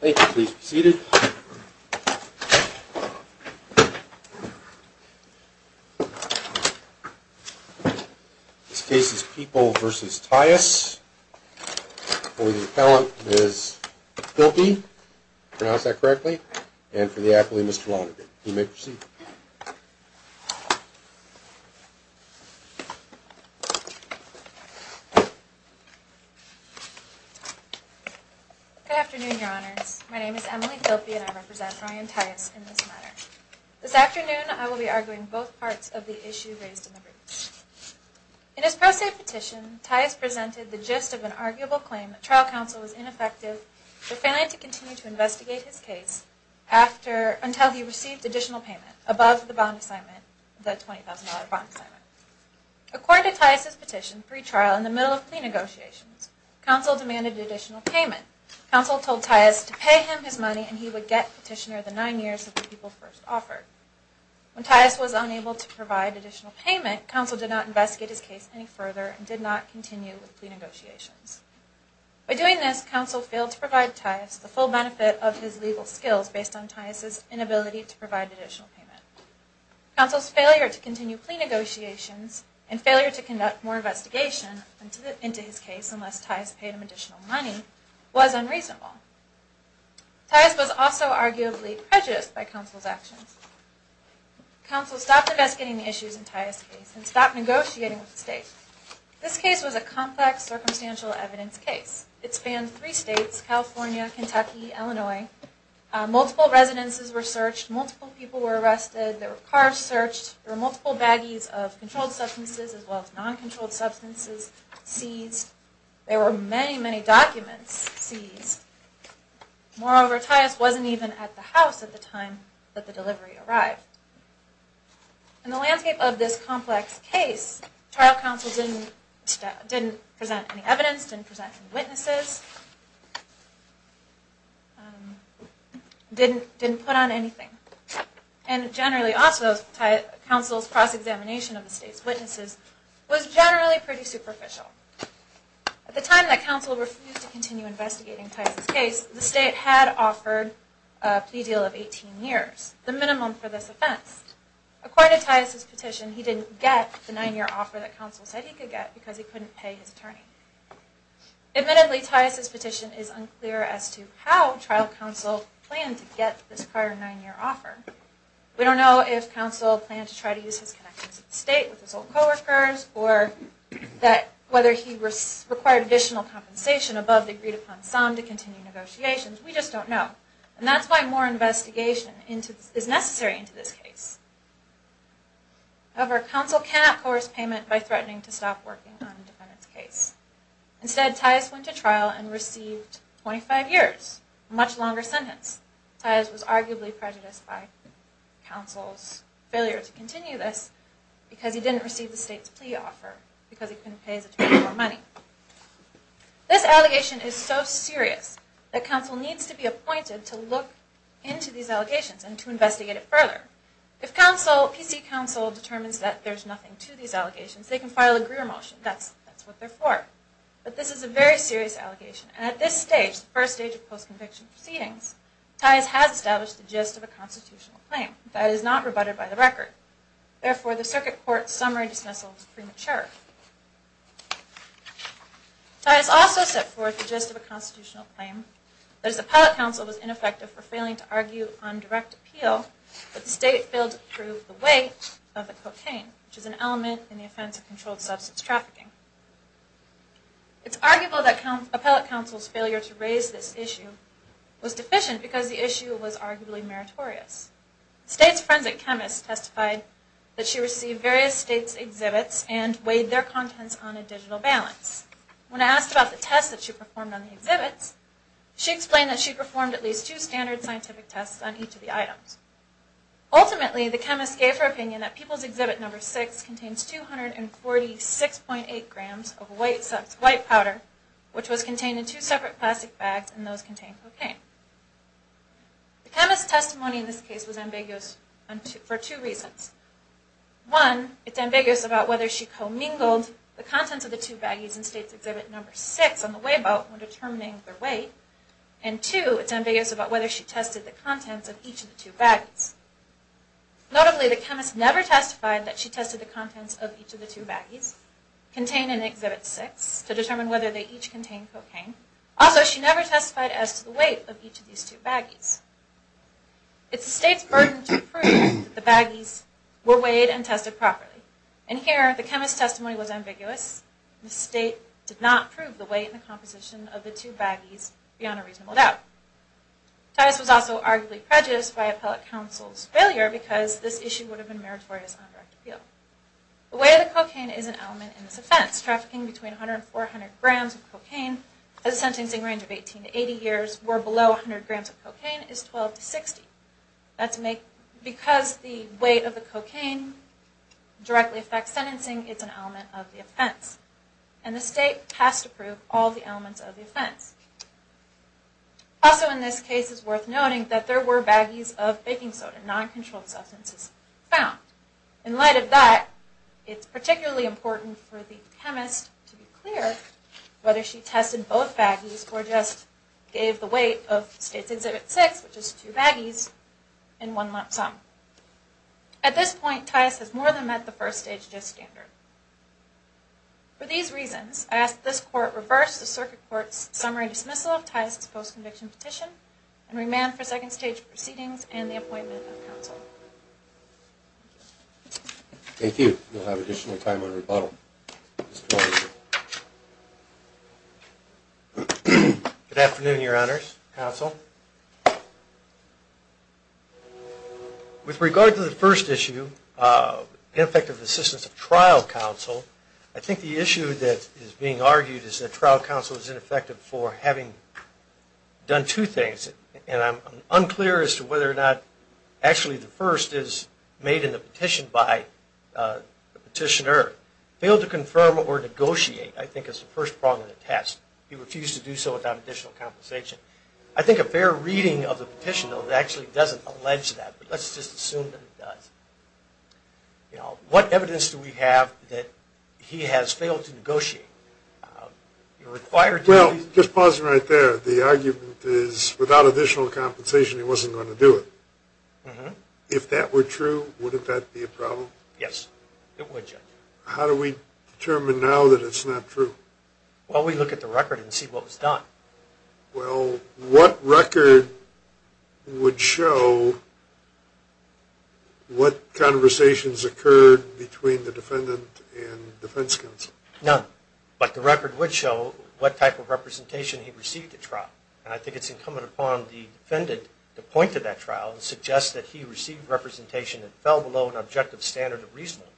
Thank you. Please be seated. This case is People v. Tyus for the appellant, Ms. Filpi if I pronounced that correctly and for the appellee, Mr. Lonergan. You may proceed. Good afternoon, Your Honors. My name is Emily Filpi and I represent Ryan Tyus in this matter. This afternoon, I will be arguing both parts of the issue raised in the brief. In his pro se petition, Tyus presented the gist of an arguable claim that trial counsel was ineffective but failing to continue to investigate his case until he received additional payment above the $20,000 bond assignment. According to Tyus's petition, free trial in the middle of plea negotiations, counsel demanded additional payment. Counsel told Tyus to pay him his money and he would get petitioner the nine years that the people first offered. When Tyus was unable to provide additional payment, counsel did not investigate his case any further and did not continue with plea negotiations. By doing this, counsel failed to provide Tyus the full benefit of his legal skills based on Tyus's inability to provide additional payment. Counsel's failure to continue plea negotiations and failure to conduct more investigation into his case unless Tyus paid him additional money was unreasonable. Tyus was also arguably prejudiced by counsel's actions. Counsel stopped investigating the issues in Tyus's case and stopped negotiating with the state. This case was a complex, circumstantial evidence case. It spanned three states, California, Kentucky, Illinois. Multiple residences were searched. Multiple people were arrested. There were cars searched. There were multiple baggies of controlled substances as well as non-controlled substances seized. There were many, many documents seized. Moreover, Tyus wasn't even at the house at the time that the delivery arrived. In the landscape of this complex case, trial counsel didn't present any evidence, didn't present any witnesses, didn't put on anything. And generally also, counsel's cross-examination of the state's witnesses was generally pretty superficial. At the time that counsel refused to continue investigating Tyus's case, the state had offered a plea deal of 18 years, the minimum for this offense. According to Tyus's petition, he didn't get the nine-year offer that counsel said he could get because he couldn't pay his attorney. Admittedly, Tyus's petition is unclear as to how trial counsel planned to get this prior nine-year offer. We don't know if counsel planned to try to use his connections at the state with his old coworkers or whether he required additional compensation above the agreed-upon sum to continue negotiations. We just don't know. And that's why more investigation is necessary into this case. However, counsel cannot coerce payment by threatening to stop working on a defendant's case. Instead, Tyus went to trial and received 25 years, a much longer sentence. Tyus was arguably prejudiced by counsel's failure to continue this because he didn't receive the state's plea offer because he couldn't pay his attorney for money. This allegation is so serious that counsel needs to be appointed to look into these allegations and to investigate it further. If counsel, PC counsel, determines that there's nothing to these allegations, they can file a Greer motion. That's what they're for. But this is a very serious allegation. And at this stage, the first stage of post-conviction proceedings, Tyus has established the gist of a constitutional claim that is not rebutted by the record. Therefore, the circuit court's summary dismissal is premature. Tyus also set forth the gist of a constitutional claim that his appellate counsel was ineffective for failing to argue on direct appeal, but the state failed to prove the weight of the cocaine, which is an element in the offense of controlled substance trafficking. It's arguable that appellate counsel's failure to raise this issue was deficient because the issue was arguably meritorious. The state's forensic chemist testified that she received various states' exhibits and weighed their contents on a digital balance. When asked about the tests that she performed on the exhibits, she explained that she performed at least two standard scientific tests on each of the items. Ultimately, the chemist gave her opinion that People's Exhibit No. 6 contains 246.8 grams of white powder, which was contained in two separate plastic bags, and those contained cocaine. The chemist's testimony in this case was ambiguous for two reasons. One, it's ambiguous about whether she commingled the contents of the two baggies in States' Exhibit No. 6 on the weigh boat when determining their weight, and two, it's ambiguous about whether she tested the contents of each of the two baggies. Notably, the chemist never testified that she tested the contents of each of the two baggies contained in Exhibit 6 to determine whether they each contained cocaine. Also, she never testified as to the weight of each of these two baggies. It's the state's burden to prove that the baggies were weighed and tested properly. And here, the chemist's testimony was ambiguous. The state did not prove the weight and composition of the two baggies beyond a reasonable doubt. Titus was also arguably prejudiced by appellate counsel's failure because this issue would have been meritorious on a direct appeal. The weight of the cocaine is an element in this offense. Trafficking between 100 and 400 grams of cocaine at a sentencing range of 18 to 80 years where below 100 grams of cocaine is 12 to 60. Because the weight of the cocaine directly affects sentencing, it's an element of the offense. And the state has to prove all the elements of the offense. Also in this case, it's worth noting that there were baggies of baking soda, non-controlled substances, found. In light of that, it's particularly important for the chemist to be clear whether she tested both baggies or just gave the weight of State's Exhibit 6, which is two baggies, in one lump sum. At this point, Titus has more than met the first stage of this standard. For these reasons, I ask that this Court reverse the Circuit Court's summary dismissal of Titus' post-conviction petition and remand for second stage proceedings and the appointment of counsel. Thank you. We'll have additional time on rebuttal. Mr. O'Rourke. Good afternoon, Your Honors. Counsel. With regard to the first issue, ineffective assistance of trial counsel, I think the issue that is being argued is that trial counsel is ineffective for having done two things. And I'm unclear as to whether or not actually the first is made in the petition by the petitioner. Failed to confirm or negotiate, I think, is the first prong of the test. He refused to do so without additional compensation. I think a fair reading of the petition, though, actually doesn't allege that. But let's just assume that it does. You know, what evidence do we have that he has failed to negotiate? Well, just pausing right there, the argument is without additional compensation he wasn't going to do it. If that were true, wouldn't that be a problem? Yes, it would, Judge. How do we determine now that it's not true? Well, we look at the record and see what was done. Well, what record would show what conversations occurred between the defendant and defense counsel? None. But the record would show what type of representation he received at trial. And I think it's incumbent upon the defendant to point to that trial and suggest that he received representation that fell below an objective standard of reasonableness.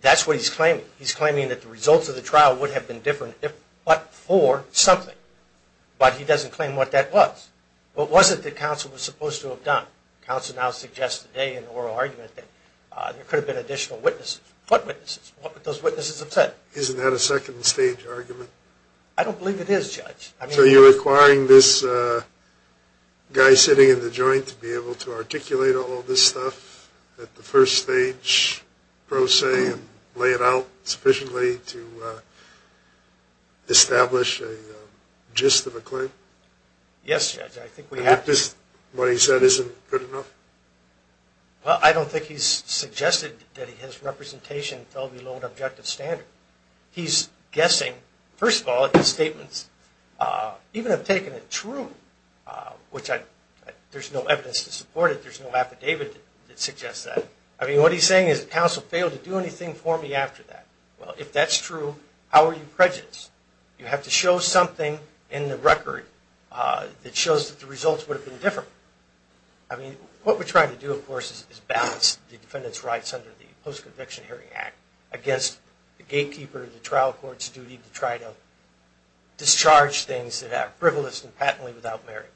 That's what he's claiming. He's claiming that the results of the trial would have been different if but for something. But he doesn't claim what that was. What was it that counsel was supposed to have done? Counsel now suggests today in oral argument that there could have been additional witnesses. What witnesses? What would those witnesses have said? Isn't that a second-stage argument? I don't believe it is, Judge. So you're requiring this guy sitting in the joint to be able to articulate all this stuff at the first-stage pro se and lay it out sufficiently to establish a gist of a claim? Yes, Judge, I think we have to. And if this, what he said, isn't good enough? Well, I don't think he's suggested that his representation fell below an objective standard. He's guessing, first of all, his statements even have taken a true, which there's no evidence to support it. There's no affidavit that suggests that. I mean, what he's saying is that counsel failed to do anything for me after that. Well, if that's true, how are you prejudiced? You have to show something in the record that shows that the results would have been different. The defendant's rights under the Post-Conviction Hearing Act against the gatekeeper of the trial court's duty to try to discharge things that are frivolous and patently without merit.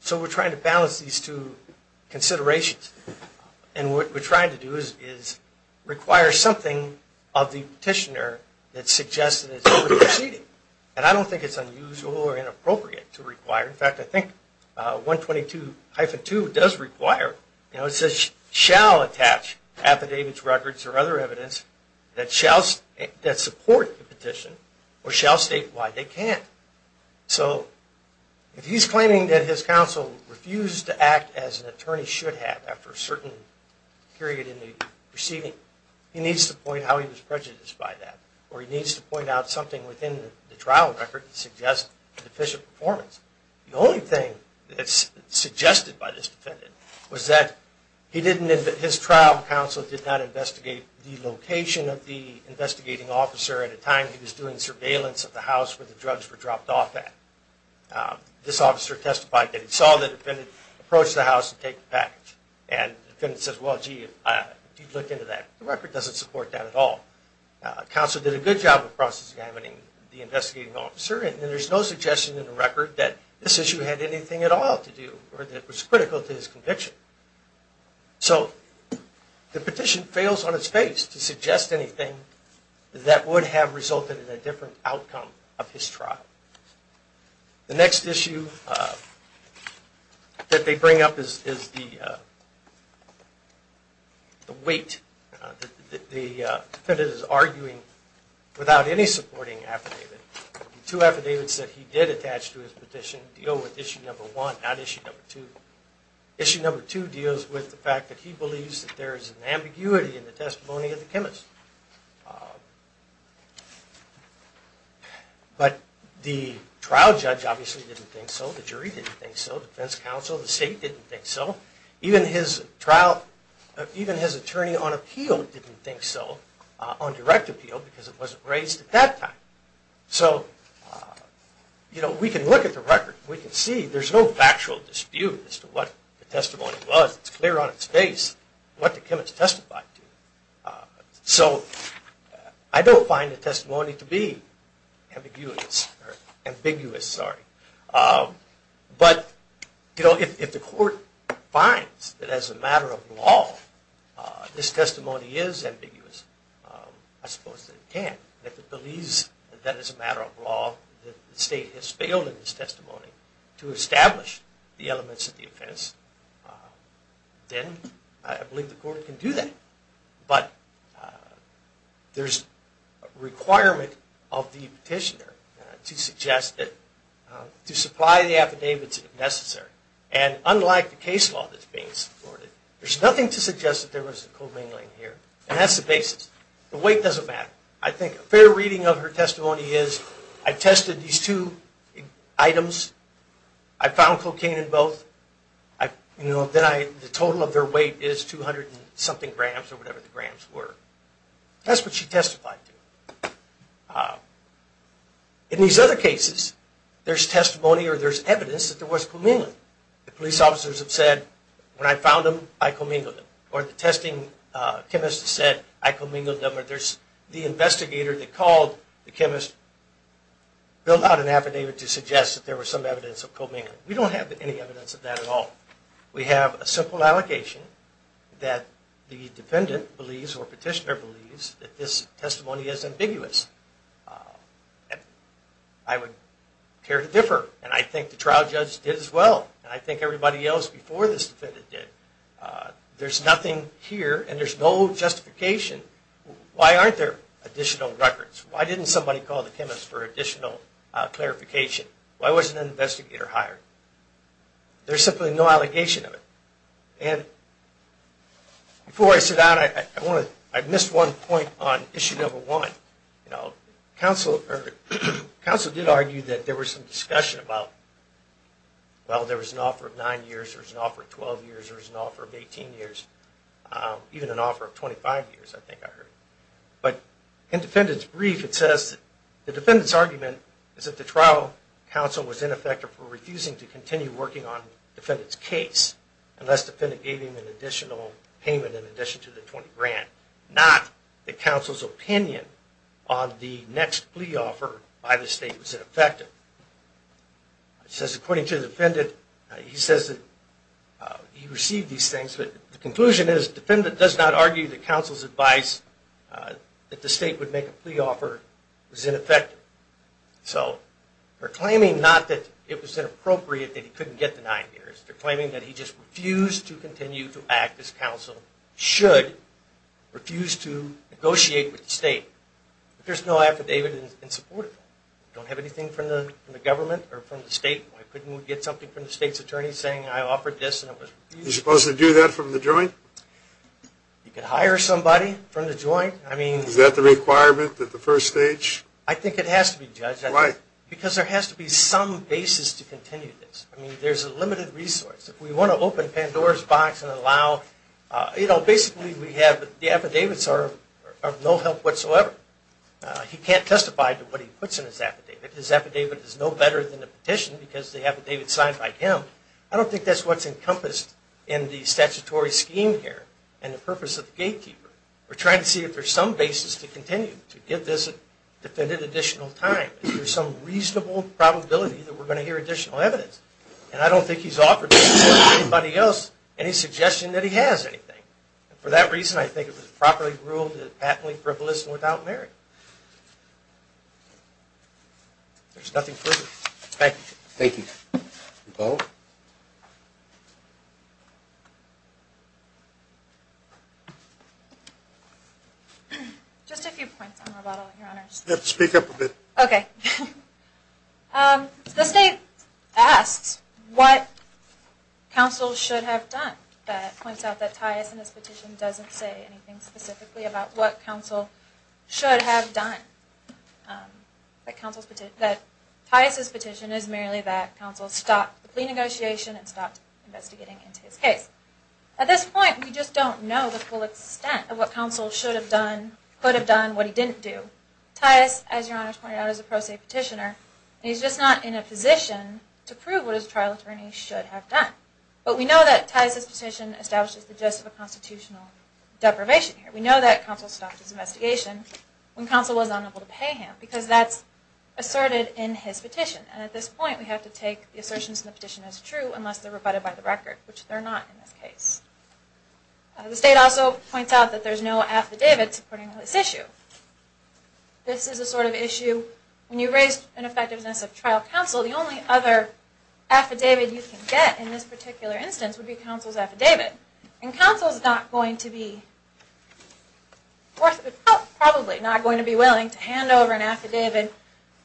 So we're trying to balance these two considerations. And what we're trying to do is require something of the petitioner that suggests that it's over-proceeding. And I don't think it's unusual or inappropriate to require. In fact, I think 122-2 does require. It says, shall attach affidavits, records, or other evidence that support the petition or shall state why they can't. So if he's claiming that his counsel refused to act as an attorney should have after a certain period in the proceeding, he needs to point out how he was prejudiced by that. Or he needs to point out something within the trial record that suggests a deficient performance. The only thing that's suggested by this defendant was that his trial counsel did not investigate the location of the investigating officer at a time he was doing surveillance of the house where the drugs were dropped off at. This officer testified that he saw the defendant approach the house to take the package. And the defendant says, well, gee, if you looked into that, the record doesn't support that at all. Counsel did a good job of processing the investigating officer, and there's no suggestion in the record that this issue had anything at all to do or that it was critical to his conviction. So the petition fails on its face to suggest anything that would have resulted in a different outcome of his trial. The next issue that they bring up is the weight. The defendant is arguing without any supporting affidavit. Two affidavits that he did attach to his petition deal with issue number one, not issue number two. Issue number two deals with the fact that he believes that there is an ambiguity in the testimony of the chemist. But the trial judge obviously didn't think so. The jury didn't think so. Defense counsel, the state didn't think so. Even his trial, even his attorney on appeal didn't think so, on direct appeal, because it wasn't raised at that time. So, you know, we can look at the record. We can see there's no factual dispute as to what the testimony was. It's clear on its face what the chemist testified to. So I don't find the testimony to be ambiguous. But, you know, if the court finds that as a matter of law this testimony is ambiguous, I suppose that it can. If it believes that as a matter of law the state has failed in its testimony to establish the elements of the offense, then I believe the court can do that. But there's a requirement of the petitioner to suggest that, to supply the affidavits if necessary. And unlike the case law that's being supported, there's nothing to suggest that there was a co-mingling here. And that's the basis. The weight doesn't matter. I think a fair reading of her testimony is, I tested these two items. I found cocaine in both. You know, the total of their weight is 200 and something grams or whatever the grams were. That's what she testified to. In these other cases, there's testimony or there's evidence that there was co-mingling. The police officers have said, when I found them, I co-mingled them. Or the testing chemist said, I co-mingled them. Or there's the investigator that called the chemist, built out an affidavit to suggest that there was some evidence of co-mingling. We don't have any evidence of that at all. We have a simple allocation that the defendant believes or petitioner believes that this testimony is ambiguous. I would care to differ. And I think the trial judge did as well. And I think everybody else before this defendant did. There's nothing here and there's no justification. Why aren't there additional records? Why didn't somebody call the chemist for additional clarification? Why wasn't an investigator hired? There's simply no allegation of it. And before I sit down, I missed one point on issue number one. You know, counsel did argue that there was some discussion about, well, there was an offer of nine years, there was an offer of 12 years, there was an offer of 18 years, even an offer of 25 years, I think I heard. But in the defendant's brief, it says that the defendant's argument is that the trial counsel was ineffective for refusing to continue working on the defendant's case unless the defendant gave him an additional payment in addition to the 20 grand, not that counsel's opinion on the next plea offer by the state was ineffective. It says, according to the defendant, he says that he received these things. But the conclusion is the defendant does not argue that counsel's advice that the state would make a plea offer was ineffective. So they're claiming not that it was inappropriate that he couldn't get the nine years. They're claiming that he just refused to continue to act as counsel should, refused to negotiate with the state. There's no affidavit in support of that. We don't have anything from the government or from the state. Why couldn't we get something from the state's attorney saying I offered this and it was refused? You're supposed to do that from the joint? You could hire somebody from the joint. Is that the requirement at the first stage? I think it has to be, Judge. Why? Because there has to be some basis to continue this. I mean, there's a limited resource. If we want to open Pandora's box and allow, you know, basically we have the affidavits are of no help whatsoever. He can't testify to what he puts in his affidavit. His affidavit is no better than a petition because the affidavit's signed by him. I don't think that's what's encompassed in the statutory scheme here and the purpose of the gatekeeper. We're trying to see if there's some basis to continue to give this defendant additional time. Is there some reasonable probability that we're going to hear additional evidence? And I don't think he's offered anybody else any suggestion that he has anything. And for that reason, I think it was properly ruled that it was patently frivolous and without merit. There's nothing further. Thank you. Thank you. Nicole? Just a few points, Your Honor. Speak up a bit. Okay. The state asks what counsel should have done. That points out that Tias and his petition doesn't say anything specifically about what counsel should have done. That Tias' petition is merely that counsel stopped the plea negotiation and stopped investigating into his case. At this point, we just don't know the full extent of what counsel should have done, could have done, what he didn't do. Tias, as Your Honor pointed out, is a pro se petitioner. He's just not in a position to prove what his trial attorney should have done. But we know that Tias' petition establishes the gist of a constitutional deprivation here. We know that counsel stopped his investigation when counsel was unable to pay him because that's asserted in his petition. And at this point, we have to take the assertions in the petition as true unless they're rebutted by the record, which they're not in this case. The state also points out that there's no affidavit supporting this issue. This is a sort of issue when you raise an effectiveness of trial counsel, the only other affidavit you can get in this particular instance would be counsel's affidavit. And counsel's not going to be, probably not going to be willing to hand over an affidavit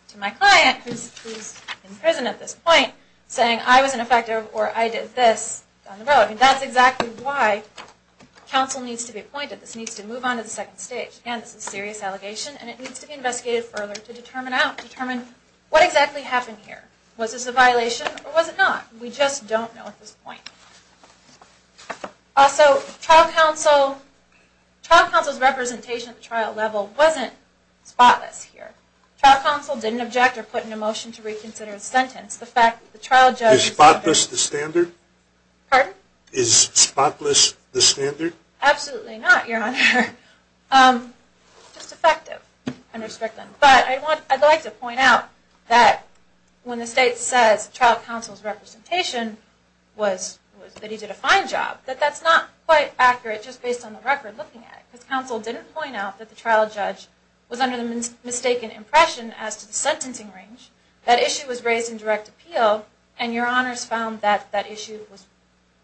to my client, who's in prison at this point, saying I was ineffective or I did this down the road. And that's exactly why counsel needs to be appointed. This needs to move on to the second stage. Again, this is a serious allegation and it needs to be investigated further to determine what exactly happened here. Was this a violation or was it not? We just don't know at this point. Also, trial counsel's representation at the trial level wasn't spotless here. Trial counsel didn't object or put in a motion to reconsider his sentence. Is spotless the standard? Pardon? Is spotless the standard? Absolutely not, Your Honor. Just effective and restrictive. But I'd like to point out that when the state says trial counsel's representation was that he did a fine job, that that's not quite accurate just based on the record looking at it. Because counsel didn't point out that the trial judge was under the mistaken impression as to the sentencing range. That issue was raised in direct appeal, and Your Honors found that that issue was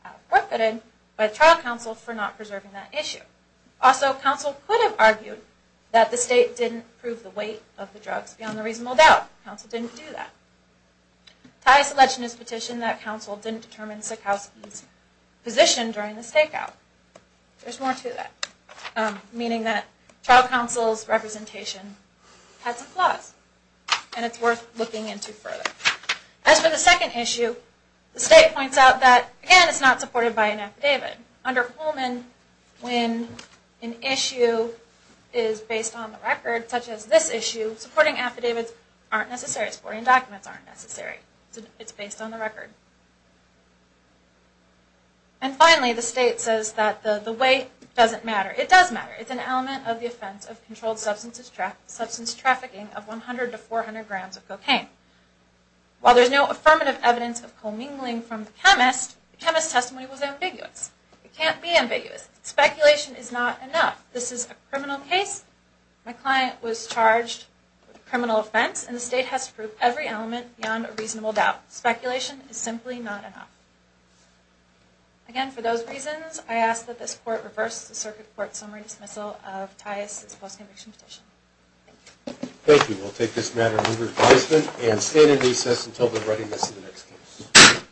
out-of-bucketed by the trial counsel for not preserving that issue. Also, counsel could have argued that the state didn't prove the weight of the drugs beyond a reasonable doubt. Counsel didn't do that. Titus Legend has petitioned that counsel didn't determine Sikowsky's position during the stakeout. There's more to that. Meaning that trial counsel's representation had some flaws and it's worth looking into further. As for the second issue, the state points out that, again, it's not supported by an affidavit. Under Coleman, when an issue is based on the record, such as this issue, supporting affidavits aren't necessary. Supporting documents aren't necessary. It's based on the record. And finally, the state says that the weight doesn't matter. It does matter. It's an element of the offense of controlled substance trafficking of 100 to 400 grams of cocaine. While there's no affirmative evidence of co-mingling from the chemist, the chemist's testimony was ambiguous. It can't be ambiguous. Speculation is not enough. This is a criminal case. My client was charged with a criminal offense, and the state has to prove every element beyond a reasonable doubt. Speculation is simply not enough. Again, for those reasons, I ask that this Court reverse the Circuit Court summary dismissal of Titus' post-conviction petition. Thank you. We'll take this matter under advisement and stand in recess until the readiness of the next case.